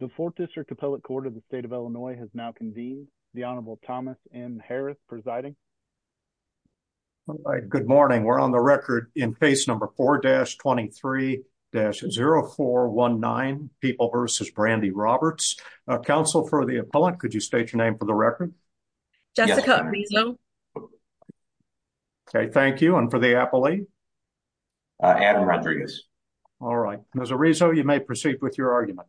The 4th District Appellate Court of the State of Illinois has now convened. The Honorable Thomas M. Harris presiding. Good morning. We're on the record in case number 4-23-0419 People v. Brandi Roberts. Counsel for the appellant, could you state your name for the record? Jessica Arizo. Okay, thank you. And for the appellee? Adam Rodriguez. All right. Ms. Arizo, you may proceed with your argument.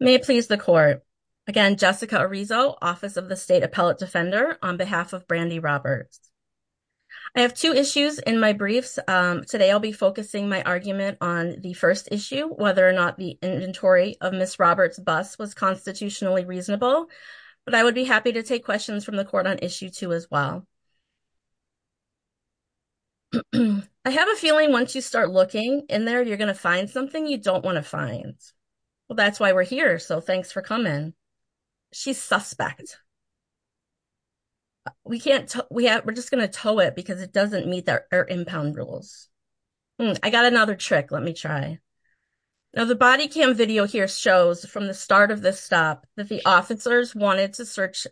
May it please the Court. Again, Jessica Arizo, Office of the State Appellate Defender, on behalf of Brandi Roberts. I have two issues in my briefs. Today I'll be focusing my argument on the first issue, whether or not the inventory of Ms. Roberts' bus was constitutionally reasonable, but I would be happy to take questions from the Court on Issue 2 as well. I have a feeling once you start looking in there, you're going to find something you don't want to find. Well, that's why we're here. So thanks for coming. She's suspect. We're just going to tow it because it doesn't meet our impound rules. I got another trick. Let me try. Now the body cam video here shows from the start of this stop that the officers wanted to search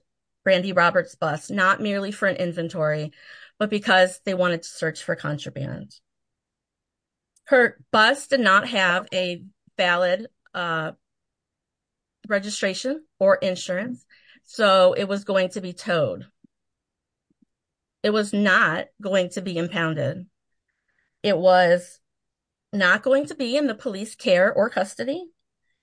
Brandi Roberts' bus, not merely for an inventory, but because they wanted to search for contraband. Her bus did not have a valid registration or insurance, so it was going to be towed. It was not going to be impounded. It was not going to be in the police care or custody.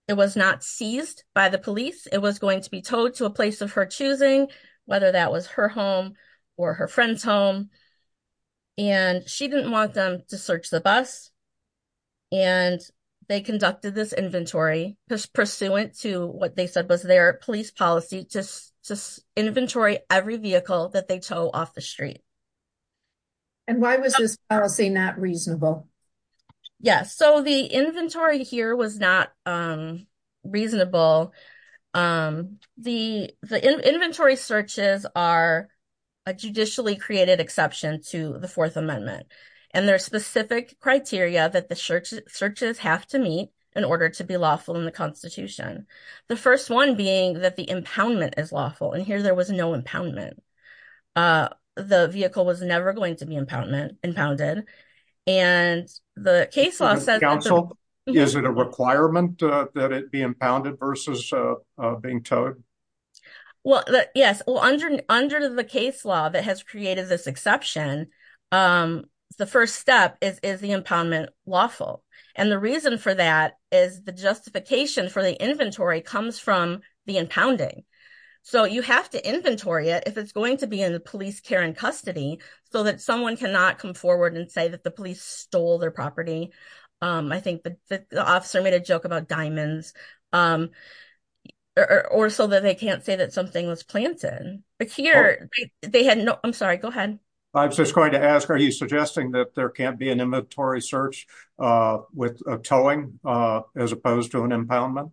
It was not seized by the police. It was going to be towed to a place of her choosing, whether that was her home or her friend's home. And she didn't want them to search the bus. And they conducted this inventory pursuant to what they said was their police policy, just inventory every vehicle that they tow off the street. And why was this policy not reasonable? Yes. So the inventory here was not reasonable. The inventory searches are a judicially created exception to the Fourth Amendment. And there are specific criteria that the searches have to meet in order to be lawful in the Constitution. The first one being that the impoundment is lawful. Here, there was no impoundment. The vehicle was never going to be impounded. And the case law says... Counsel, is it a requirement that it be impounded versus being towed? Well, yes. Under the case law that has created this exception, the first step is the impoundment lawful. And the reason for that is the justification for the inventory comes from the impounding. So you have to inventory it if it's going to be in the police care and custody, so that someone cannot come forward and say that the police stole their property. I think the officer made a joke about diamonds, or so that they can't say that something was planted. But here, they had no... I'm sorry, go ahead. I'm just going to ask, are you suggesting that there can't be an inventory search with a towing as opposed to an impoundment?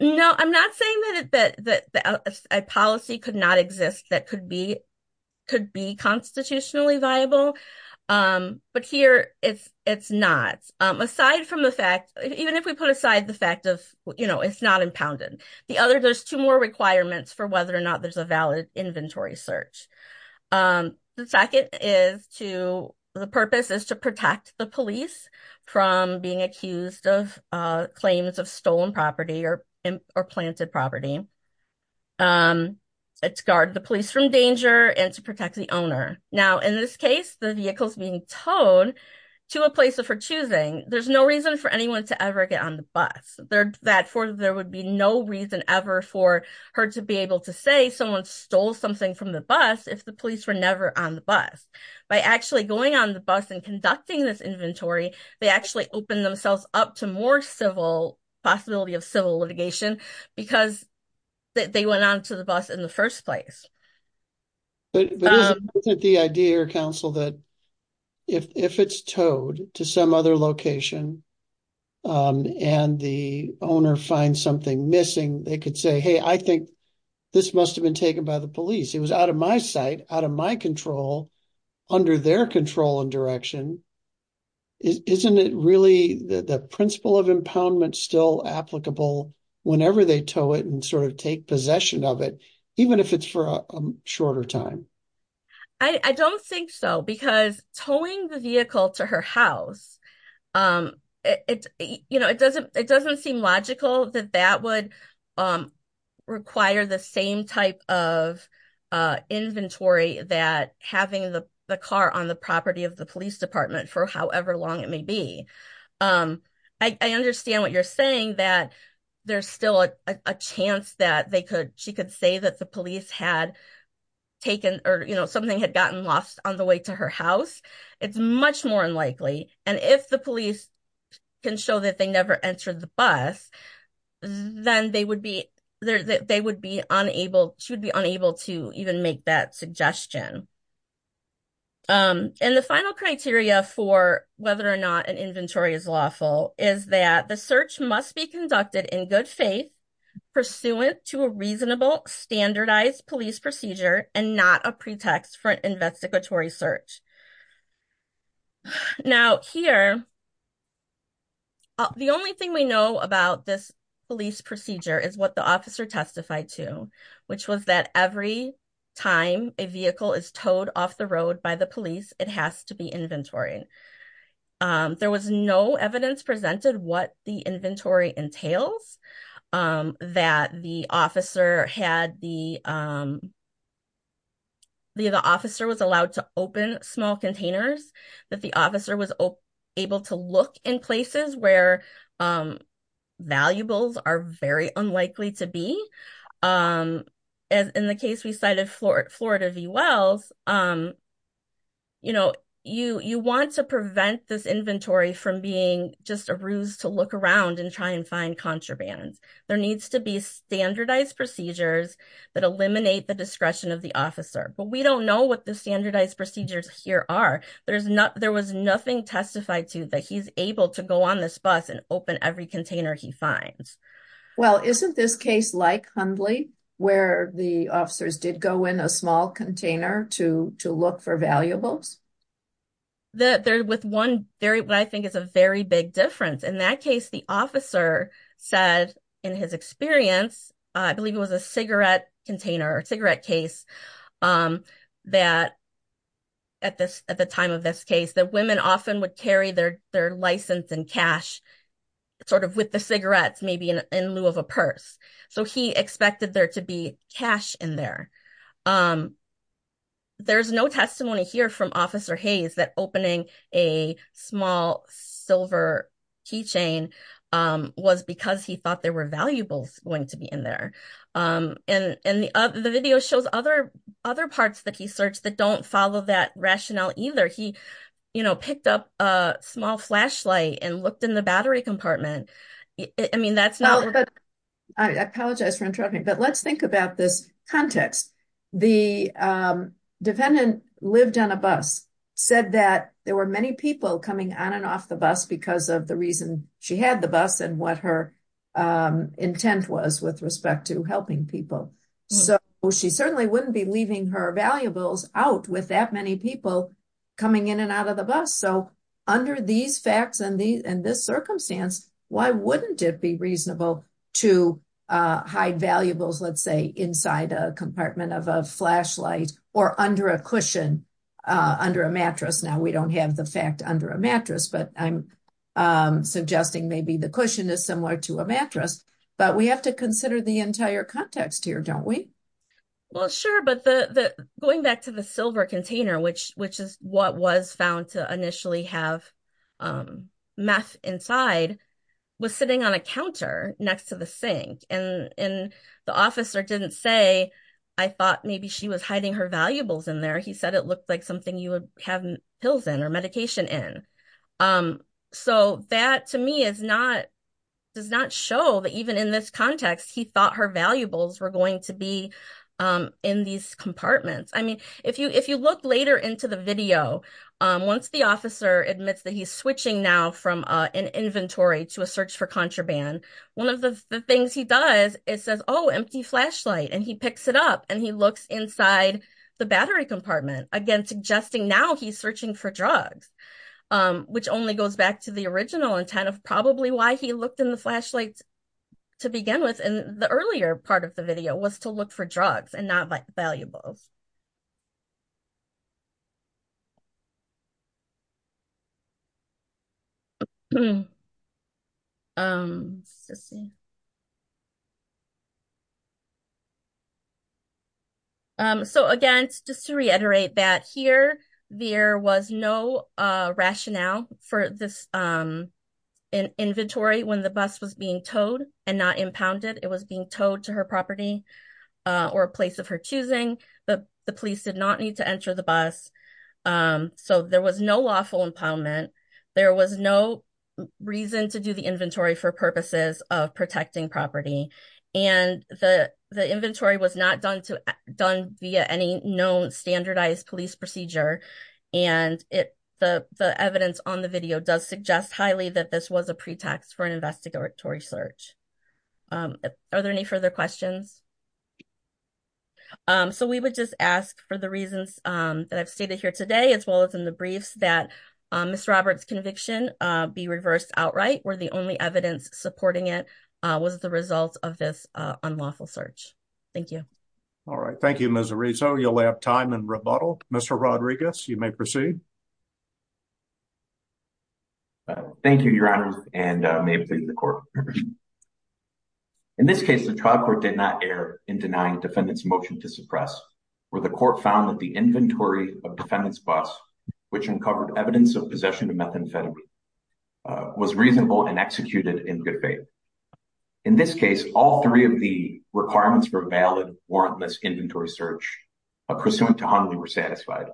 No, I'm not saying that a policy could not exist that could be constitutionally viable. But here, it's not. Aside from the fact... Even if we put aside the fact of, you know, it's not impounded. There's two more requirements for whether or not there's a valid inventory search. The second is to... The purpose is to protect the police from being accused of claims of stolen property or planted property. It's to guard the police from danger and to protect the owner. Now, in this case, the vehicle's being towed to a place of her choosing. There's no reason for anyone to ever get on the bus. Therefore, there would be no reason ever for her to be able to say someone stole something from the bus if the police were never on the bus. By actually going on the possibility of civil litigation, because they went on to the bus in the first place. But isn't the idea, Council, that if it's towed to some other location and the owner finds something missing, they could say, hey, I think this must have been taken by the police. It was out of my sight, out of my control, under their control and direction. Isn't it really the applicable whenever they tow it and sort of take possession of it, even if it's for a shorter time? I don't think so. Because towing the vehicle to her house, it doesn't seem logical that that would require the same type of inventory that having the car on the property of the police department for however long it may be. I understand what you're saying that there's still a chance that she could say that the police had taken or something had gotten lost on the way to her house. It's much more unlikely. And if the police can show that they never entered the bus, then they would be unable, she would be unable to even make that suggestion. And the final criteria for whether or not an inventory is lawful is that the search must be conducted in good faith pursuant to a reasonable standardized police procedure and not a pretext for an investigatory search. Now here, the only thing we know about this police procedure is what officer testified to, which was that every time a vehicle is towed off the road by the police, it has to be inventory. There was no evidence presented what the inventory entails that the officer was allowed to open small containers, that the officer was able to look in places where valuables are very unlikely to be. As in the case we cited Florida v. Wells, you want to prevent this inventory from being just a ruse to look around and try and find contraband. There needs to be standardized procedures that eliminate the discretion of the officer. But we don't know what the standardized procedures here are. There was nothing testified to that he's able to go on this bus and open every container he finds. Well, isn't this case like Hundley, where the officers did go in a small container to look for valuables? There's one very, what I think is a very big difference. In that case, the officer said in his experience, I believe it was a cigarette container or cigarette case, that at the time of this case, that women often would carry their license and cash sort of with the cigarettes, maybe in lieu of a purse. So he expected there to be cash in there. There's no testimony here from Officer Hayes that opening a small silver key chain was because he other parts that he searched that don't follow that rationale either. He picked up a small flashlight and looked in the battery compartment. I apologize for interrupting, but let's think about this context. The defendant lived on a bus, said that there were many people coming on and off the bus because of the reason she had the bus and what her intent was with respect to helping people. So she certainly wouldn't be leaving her valuables out with that many people coming in and out of the bus. So under these facts and this circumstance, why wouldn't it be reasonable to hide valuables, let's say inside a compartment of a flashlight or under a cushion, under a mattress? Now we don't have the fact under a mattress, but I'm suggesting maybe the don't we? Well, sure. But going back to the silver container, which is what was found to initially have meth inside, was sitting on a counter next to the sink. And the officer didn't say, I thought maybe she was hiding her valuables in there. He said it looked like something you would have pills in or medication in. So that to me does not show that even in this context, he thought her valuables were going to be in these compartments. I mean, if you look later into the video, once the officer admits that he's switching now from an inventory to a search for contraband, one of the things he does is says, oh, empty flashlight, and he picks it up and he looks inside the battery compartment. Again, suggesting now he's searching for drugs, which only goes back to the original intent of probably why he looked in the flashlights to begin with. And the earlier part of the video was to look for drugs and not valuables. So again, just to reiterate that here, there was no rationale for this inventory when the bus was being towed and not impounded. It was being towed to her property or a place of her choosing. The police did not need to enter the bus. So there was no lawful impoundment. There was no reason to do the inventory for purposes of protecting property. And the inventory was not done via any known standardized police procedure. And the evidence on the video does suggest highly that this was a pretext for an investigatory search. Are there any further questions? So we would just ask for the reasons that I've stated here today, as well as in the briefs, that Ms. Roberts' conviction be reversed outright, where the only evidence supporting it was the result of this unlawful search. Thank you. All right. Thank you, Ms. Arizo. You'll have time in rebuttal. Mr. Rodriguez, you may proceed. Thank you, Your Honor, and may it please the Court. In this case, the trial court did not err in denying defendant's motion to suppress, where the Court found that the inventory of defendant's bus, which uncovered evidence of possession of methamphetamine, was reasonable and executed in good faith. In this case, all three of the requirements for valid warrantless inventory search pursuant to Hundley were satisfied.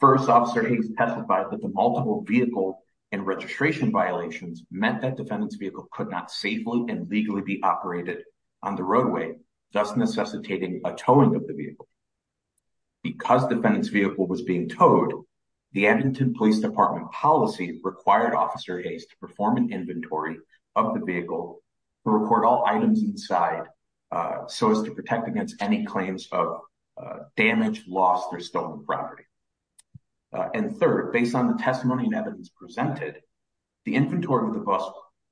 First, Officer Hayes testified that the multiple vehicle and registration violations meant that defendant's vehicle could not safely and legally be operated on the roadway, thus necessitating a towing of the vehicle. Because defendant's vehicle was being towed, the Edmonton Police Department policy required Officer Hayes to perform an inventory of the vehicle to report all items inside, so as to protect against any claims of damage, loss, or stolen property. And third, based on the testimony and evidence presented, the inventory of the bus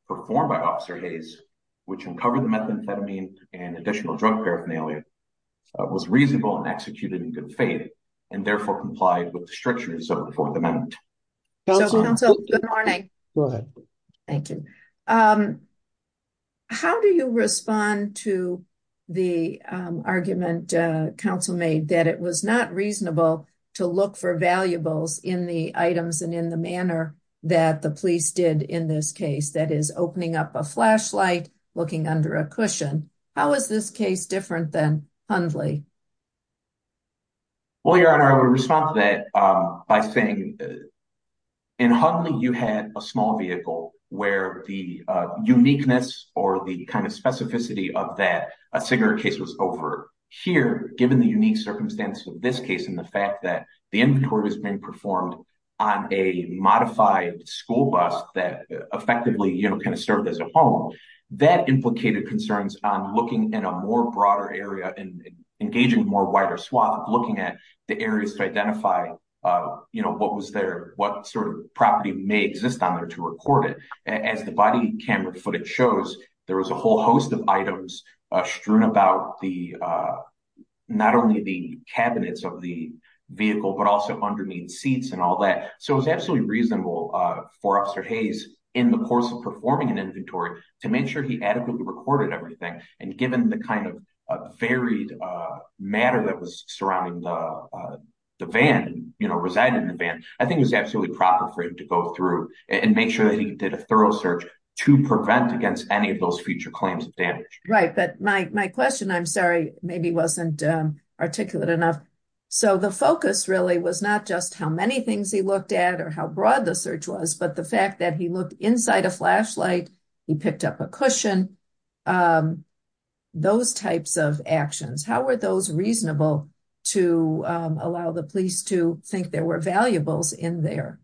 performed by Officer Hayes, which uncovered the methamphetamine and additional drug paraphernalia, was reasonable and executed in good faith, and therefore complied with the strictures of the Fourth Amendment. So, Counsel, good morning. Go ahead. Thank you. How do you respond to the argument Counsel made that it was not reasonable to look for valuables in the items and in the manner that the police did in this case, that is, opening up a flashlight, looking under a cushion? How is this case different than Hundley? Well, Your Honor, I would respond to that by saying in Hundley you had a small vehicle where the uniqueness or the kind of specificity of that cigarette case was over here, given the unique circumstance of this case and the fact that the inventory was being performed on a modified school bus that effectively, you know, kind of served as a home. That implicated concerns on looking in a more broader area and engaging more wider swath, looking at the areas to identify, you know, what was there, what sort of property may exist on there to record it. As the body camera footage shows, there was a whole host of items strewn about the, not only the cabinets of the vehicle, but also underneath seats and all that. So it was absolutely reasonable for Officer Hayes in the course of performing an inventory to make sure he adequately recorded everything. And given the kind of varied matter that was surrounding the van, you know, residing in the van, I think it was absolutely proper for him to go through and make sure that he did a thorough search to prevent against any of those future claims of damage. Right. But my question, I'm sorry, maybe wasn't articulate enough. So the focus really was not just how many things he looked at or how broad the search was, but the fact that he looked inside a flashlight, he picked up a cushion, those types of actions. How were those reasonable to allow the police to think there were valuables in there?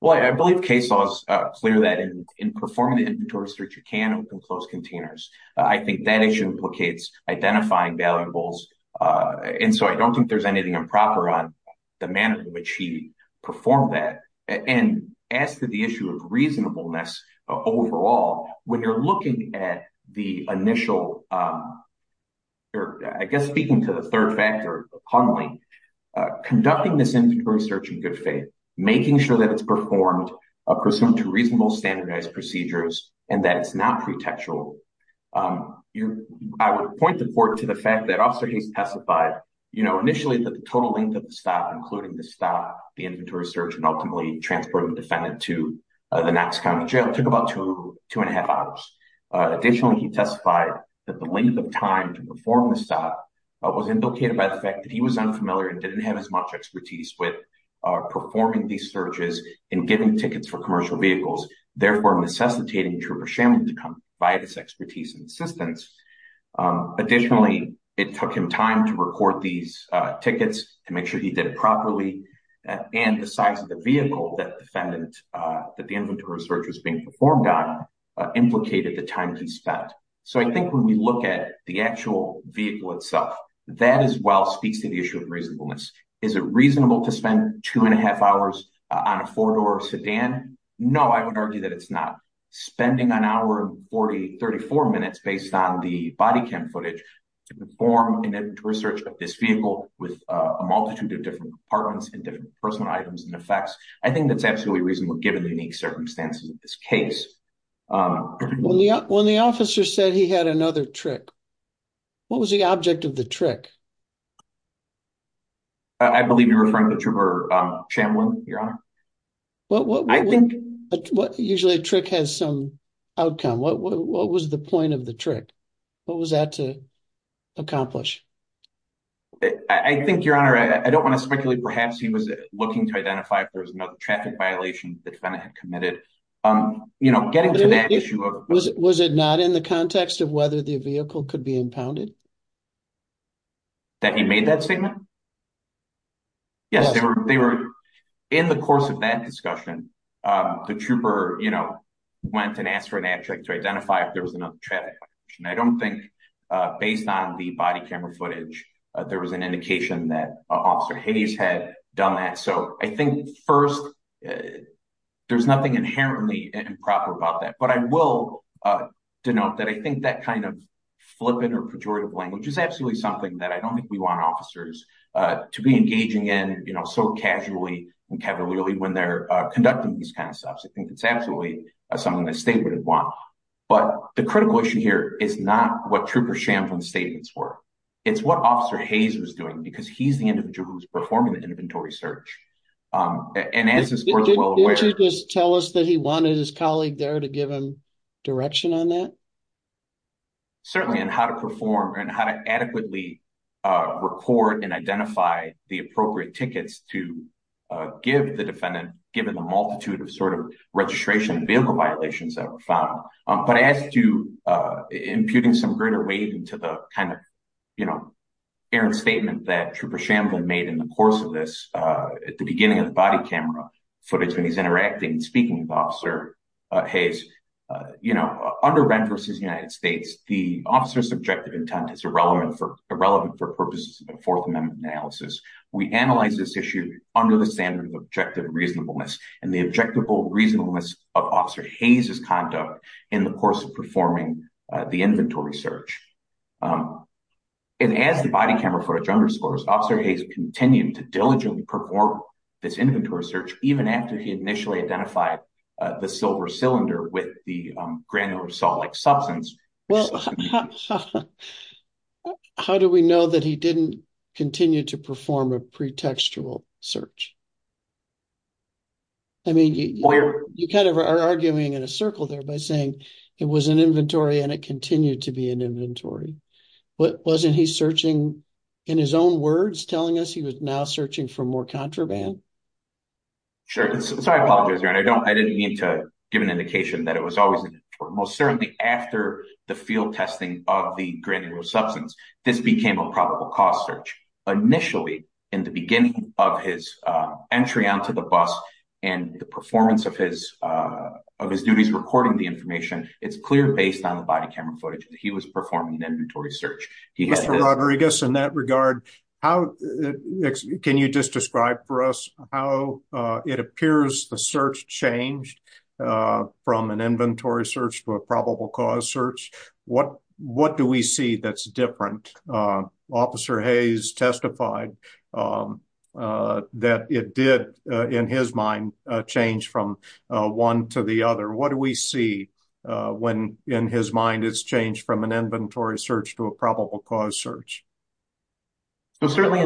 Well, I believe case laws clear that in performing the inventory search you can open closed containers. I think that issue implicates identifying valuables. And so I don't think there's anything improper on the manner in which he performed that. And as to the issue of reasonableness overall, when you're looking at the initial, I guess speaking to the third factor, funneling, conducting this inventory search in good faith, making sure that it's performed, pursuant to reasonable standardized procedures, and that it's not pretextual. I would point the court to the fact that also he's testified initially that the total length of the stop, including the stop, the inventory search, and ultimately transporting the defendant to the Knox County Jail took about two and a half hours. Additionally, he testified that the length of time to perform the stop was indicated by the fact that he was unfamiliar and didn't have as many tickets for commercial vehicles, therefore necessitating Trooper Shamlin to come by his expertise and assistance. Additionally, it took him time to record these tickets to make sure he did it properly. And the size of the vehicle that defendant, that the inventory search was being performed on, implicated the time he spent. So I think when we look at the actual vehicle itself, that as well speaks to the issue of reasonableness. Is it reasonable to spend two and a half hours on a four-door sedan? No, I would argue that it's not. Spending an hour and 40, 34 minutes based on the body cam footage to perform an inventory search of this vehicle with a multitude of different departments and different personal items and effects, I think that's absolutely reasonable given the unique circumstances of this case. When the officer said he had another trick, what was the object of the trick? I believe you're referring to Trooper Shamlin, Your Honor. I think usually a trick has some outcome. What was the point of the trick? What was that to accomplish? I think, Your Honor, I don't want to speculate. Perhaps he was looking to identify if there was another traffic violation the defendant had committed. Getting to that issue of- Was it not in the context of whether the vehicle could be impounded? That he made that statement? Yes, they were. In the course of that discussion, the trooper went and asked for an abject to identify if there was another traffic. I don't think based on the body camera footage, there was an indication that Officer Hayes had done that. So I think first, there's nothing inherently improper about that. But I will denote that I absolutely don't think we want officers to be engaging in so casually and cavalierly when they're conducting these kinds of stuff. I think it's absolutely something the state would have wanted. But the critical issue here is not what Trooper Shamlin's statements were. It's what Officer Hayes was doing because he's the individual who's performing the inventory search. And as is well aware- Did you just tell us that he wanted his colleague there to give him on that? Certainly, and how to perform and how to adequately record and identify the appropriate tickets to give the defendant, given the multitude of registration and vehicle violations that were found. But as to imputing some greater weight into the kind of errant statement that Trooper Shamlin made in the course of this, at the beginning of the body camera footage, when he's interacting and speaking with Officer Hayes, you know, under rent versus the United States, the officer's objective intent is irrelevant for purposes of a Fourth Amendment analysis. We analyze this issue under the standard of objective reasonableness and the objectable reasonableness of Officer Hayes' conduct in the course of performing the inventory search. And as the body camera footage underscores, Officer Hayes continued to diligently perform this inventory search, even after he initially identified the silver cylinder with the granular salt-like substance. Well, how do we know that he didn't continue to perform a pretextual search? I mean, you kind of are arguing in a circle there by saying it was an inventory and it continued to be an inventory. But wasn't he searching in his own words, telling us he was now searching for more contraband? Sure. Sorry, I apologize, Your Honor. I didn't mean to give an indication that it was always an inventory. Most certainly after the field testing of the granular substance, this became a probable cause search. Initially, in the beginning of his entry onto the bus and the performance of his duties recording the information, it's clear based on the body camera footage that he was performing an inventory search. Mr. Rodriguez, in that regard, can you just describe for us how it appears the search changed from an inventory search to a probable cause search? What do we see that's different? Officer Hayes testified that it did, in his mind, change from one to the other. What do we see when, in his mind, it's changed from an inventory search to a probable cause search? Well, certainly,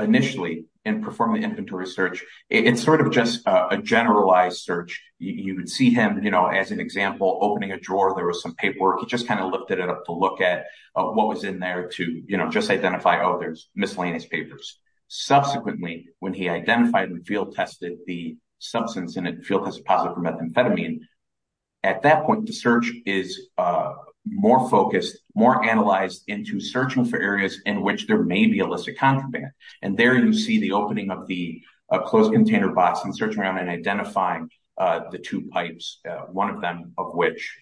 initially, in performing the inventory search, it's sort of just a generalized search. You would see him, as an example, opening a drawer. There was some paperwork. He just kind of lifted it up to look at what was in there to just identify, oh, there's miscellaneous papers. Subsequently, when he identified and field tested the substance in it, field test positive for the search is more focused, more analyzed into searching for areas in which there may be illicit contraband. And there you see the opening of the closed container box and searching around and identifying the two pipes, one of them of which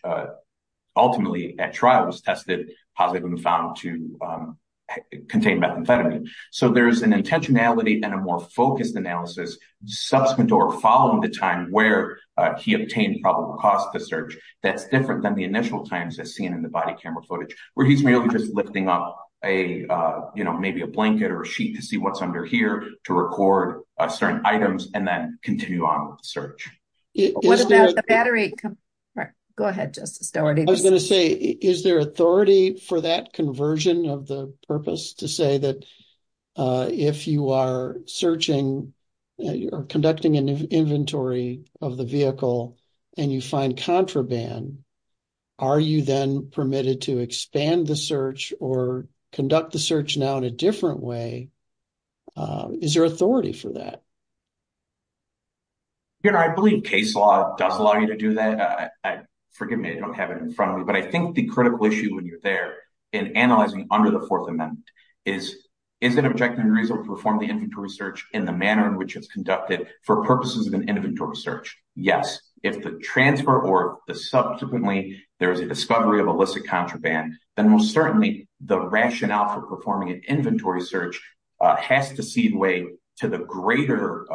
ultimately, at trial, was tested positive and found to contain methamphetamine. So there's an intentionality and a more focused analysis subsequent or following the time where he obtained probable cause to search that's different than the initial times as seen in the body camera footage, where he's really just lifting up maybe a blanket or a sheet to see what's under here to record certain items and then continue on with the search. What about the battery? Go ahead, Justice Dougherty. I was going to say, is there authority for that conversion of the purpose to say that if you are searching or conducting an inventory of the vehicle and you find contraband, are you then permitted to expand the search or conduct the search now in a different way? Is there authority for that? Your Honor, I believe case law does allow you to do that. Forgive me, I don't have it in front of me. But I think the critical issue when you're there in analyzing under the Fourth Amendment is, is it objective and reasonable to perform the inventory search in the manner in which it's conducted for purposes of an inventory search? Yes. If the transfer or the subsequently there is a discovery of illicit contraband, then most certainly the rationale for performing an inventory search has to see the way to the greater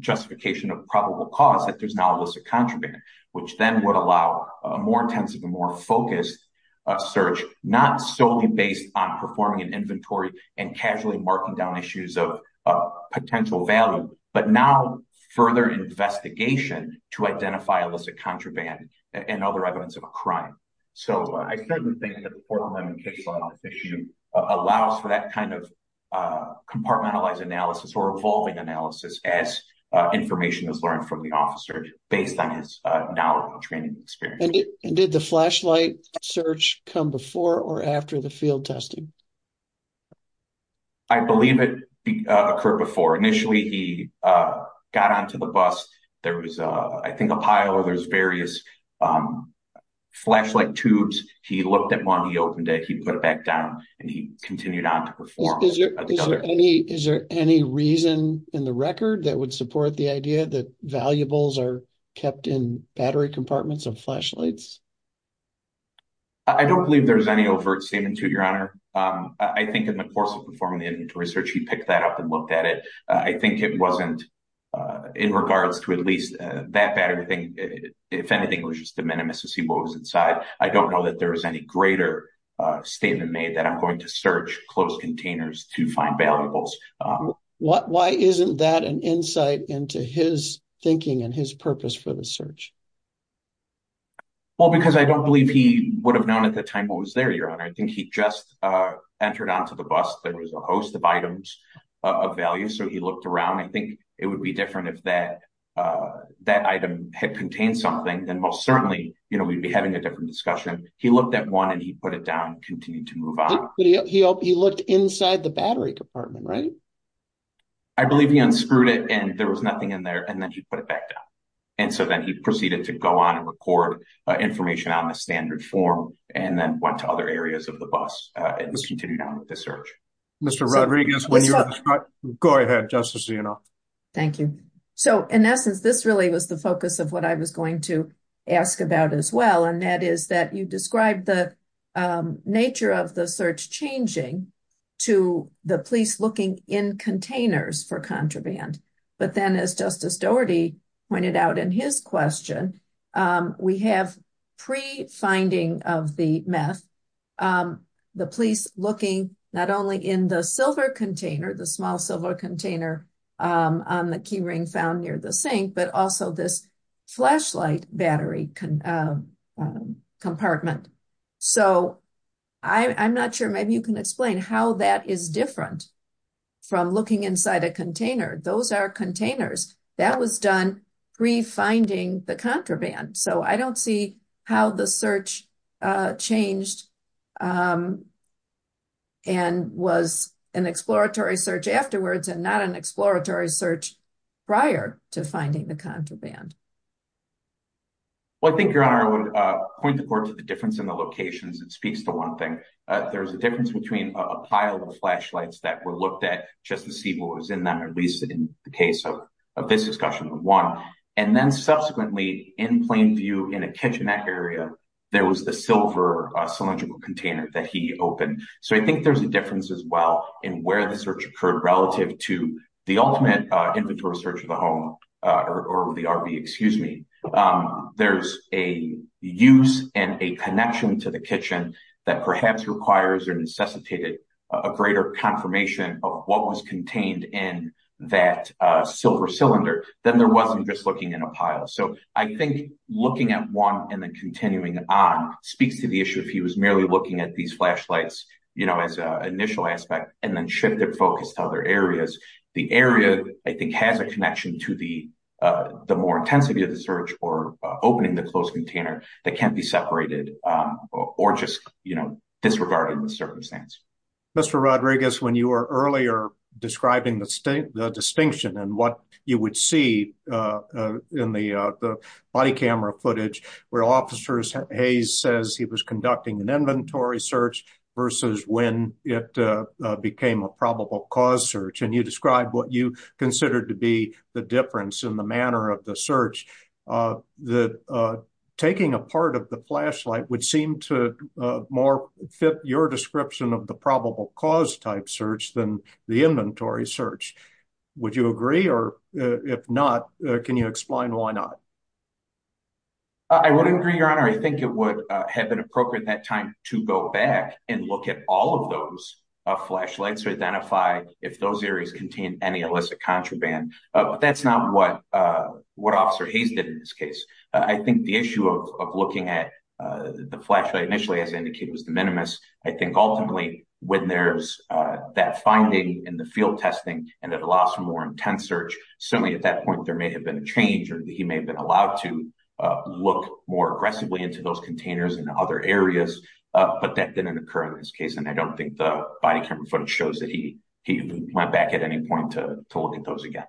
justification of probable cause that there's now illicit contraband, which then would allow a more intensive and more focused search, not solely based on performing an inventory and casually marking down issues of potential value, but now further investigation to identify illicit contraband and other evidence of a crime. So, I certainly think that the Fourth Amendment case law issue allows for that kind of compartmentalized analysis or evolving analysis as information is learned from the officer based on his knowledge training experience. And did the flashlight search come before or after the field testing? I believe it occurred before. Initially, he got onto the bus. There was, I think, a pile or there's various flashlight tubes. He looked at one, he opened it, he put it back down, and he continued on to perform. Is there any reason in the record that would support the idea that valuables are flashlights? I don't believe there's any overt statement to your honor. I think in the course of performing the inventory search, he picked that up and looked at it. I think it wasn't in regards to at least that bad of a thing. If anything, it was just a minimus to see what was inside. I don't know that there was any greater statement made that I'm going to search closed containers to find valuables. Why isn't that an insight into his thinking and his purpose for the search? Well, because I don't believe he would have known at the time what was there, your honor. I think he just entered onto the bus. There was a host of items of value, so he looked around. I think it would be different if that item had contained something, then most certainly, you know, we'd be having a different discussion. He looked at one and he put it down, continued to move on. He looked inside the battery department, right? I believe he unscrewed it and there was and so then he proceeded to go on and record information on the standard form and then went to other areas of the bus and just continue down with the search. Mr. Rodriguez, go ahead, justice, you know. Thank you. So in essence, this really was the focus of what I was going to ask about as well, and that is that you described the nature of the search changing to the police looking in containers for contraband, but then as Justice Doherty pointed out in his question, we have pre-finding of the meth, the police looking not only in the silver container, the small silver container on the key ring found near the sink, but also this flashlight battery compartment. So I'm not sure, maybe you can explain how that is different from looking inside a container. Those are containers that was done pre-finding the contraband. So I don't see how the search changed and was an exploratory search afterwards and not an exploratory search prior to finding the contraband. Well, I think, Your Honor, I would point the court to the difference in the locations. It speaks to one thing. There's a difference between a pile of flashlights that were looked at just to see what was in them, at least in the case of this discussion, one, and then subsequently in plain view in a kitchenette area, there was the silver cylindrical container that he opened. So I think there's a difference as well in where the search occurred relative to the ultimate inventory search of the home or the RV, excuse me. There's a use and a connection to the kitchen that perhaps requires or necessitated a greater confirmation of what was contained in that silver cylinder than there wasn't just looking in a pile. So I think looking at one and then continuing on speaks to the issue if he was merely looking at these flashlights as an initial aspect and then shifted focus to other areas. The area, I think, has a connection to the more intensity of the search or opening the closed container that can't be separated or just disregarded in the circumstance. Mr. Rodriguez, when you were earlier describing the distinction and what you would see in the body camera footage where Officer Hayes says he was conducting an inventory search versus when it became a probable cause search and you described what you considered to be the difference in the manner of the search, that taking a part of the flashlight would seem to more fit your description of the probable cause type search than the inventory search. Would you agree or if not, can you explain why not? I would agree, Your Honor. I think it would have been appropriate at that time to go back and look at all of those flashlights to identify if those areas contain any illicit contraband, but that's not what Officer Hayes did in this case. I think the issue of looking at the flashlight initially, as indicated, was the minimus. I think ultimately when there's that finding in the field testing and it allows for more intense search, certainly at that point there may have been a change or he may have been allowed to look more aggressively into those containers and other areas, but that didn't occur in this case and I don't think the body camera footage shows that he went back at any point to look at those again.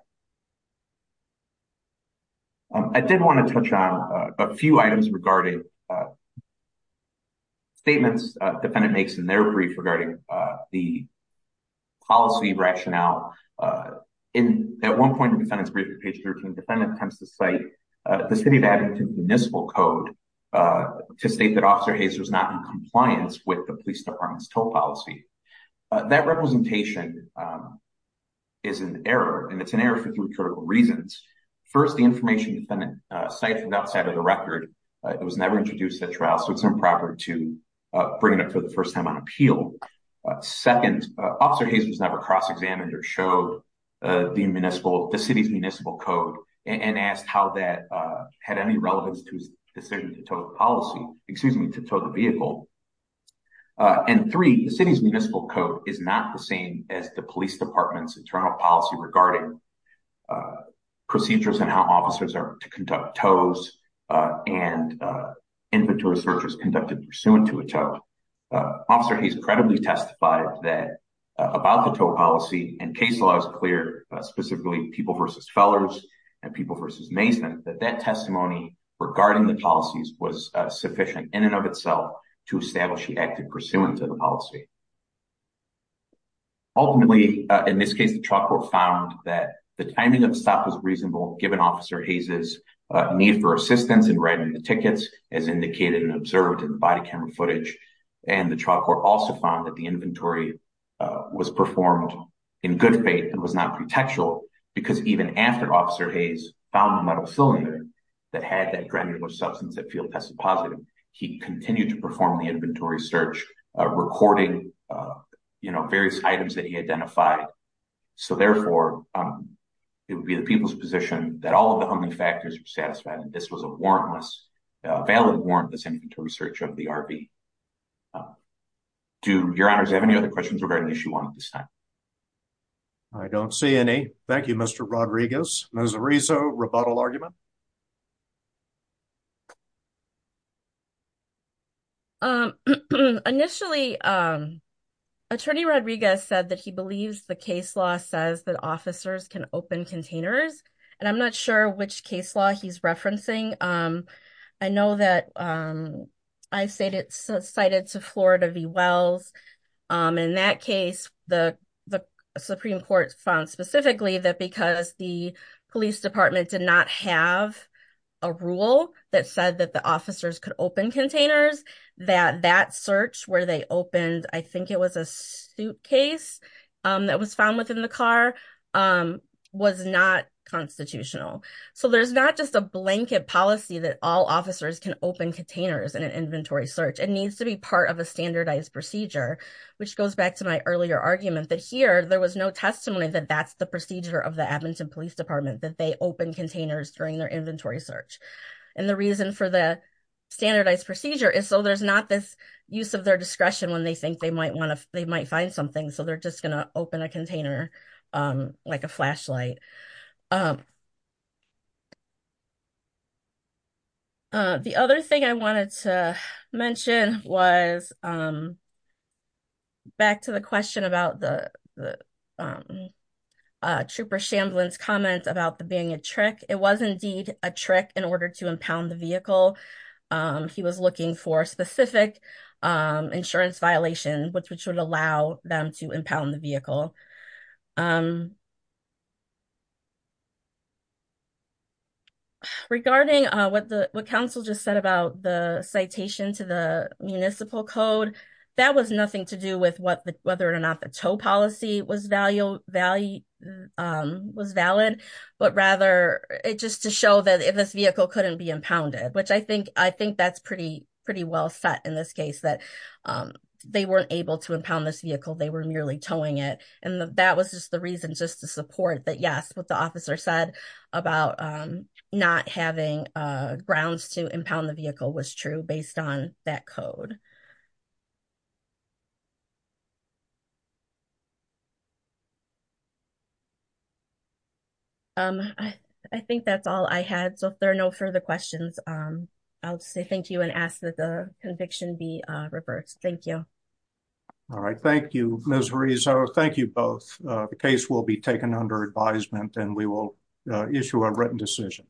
I did want to touch on a few items regarding statements the defendant makes in their brief regarding the policy rationale. At one point in the defendant's brief, page 13, the defendant attempts to cite the City of Abington Municipal Code to state that Officer Hayes was not in compliance with the police department's toll policy. That representation is an error and it's an error for three critical reasons. First, the information the defendant cites is outside of the record. It was never introduced at trial so it's improper to bring it up for the first time on appeal. Second, Officer Hayes was never cross-examined or showed the City's Municipal Code and asked how that had any relevance to his decision to tow the vehicle. And three, the City's Municipal Code is not the same as the police department's internal policy regarding procedures and how officers are to conduct tows and inventory searches conducted pursuant to a tow. Officer Hayes credibly testified that about the tow policy and case law is clear, specifically People v. Fellers and People v. Mason, that that testimony regarding the policies was sufficient in and of itself to establish he acted pursuant to the policy. Ultimately, in this case, the trial court found that the timing of the stop was reasonable given Officer Hayes' need for assistance in writing the tickets as indicated and observed in the body also found that the inventory was performed in good faith and was not pretextual because even after Officer Hayes found the metal cylinder that had that dreadnought substance that field tested positive, he continued to perform the inventory search, recording various items that he identified. So therefore, it would be the people's position that all of the humbling factors were satisfied and this was a warrantless, valid warrantless inventory search of the RV. Do your honors have any other questions regarding issue one at this time? I don't see any. Thank you, Mr. Rodriguez. Ms. Arizo, rebuttal argument? Initially, Attorney Rodriguez said that he believes the case law says that officers can cite it to Florida v. Wells. In that case, the Supreme Court found specifically that because the police department did not have a rule that said that the officers could open containers, that that search where they opened, I think it was a suitcase that was found within the car, was not constitutional. So there's not just a blanket policy that all officers can open containers in an inventory search. It needs to be part of a standardized procedure, which goes back to my earlier argument that here, there was no testimony that that's the procedure of the Edmonton Police Department, that they open containers during their inventory search. And the reason for the standardized procedure is so there's not this use of their discretion when they think they might find something, so they're just going to open a container like a flashlight. The other thing I wanted to mention was, back to the question about the Trooper Shamblin's comment about the being a trick, it was indeed a trick in order to impound the vehicle. He was looking for specific insurance violations, which would allow them to impound the vehicle. Regarding what the council just said about the citation to the municipal code, that was nothing to do with whether or not the tow policy was valid, but rather just to show that this vehicle couldn't be impounded, which I think that's pretty well set in this case, that they weren't able to impound this vehicle, they were merely towing it. And that was just the reason, just to support that yes, what the officer said about not having grounds to impound the vehicle was true based on that code. I think that's all I had. So if there are no further questions, I'll say thank you and ask that the conviction be reversed. Thank you. All right. Thank you, Ms. Rizzo. Thank you both. The case will be taken under advisement and we will issue a written decision.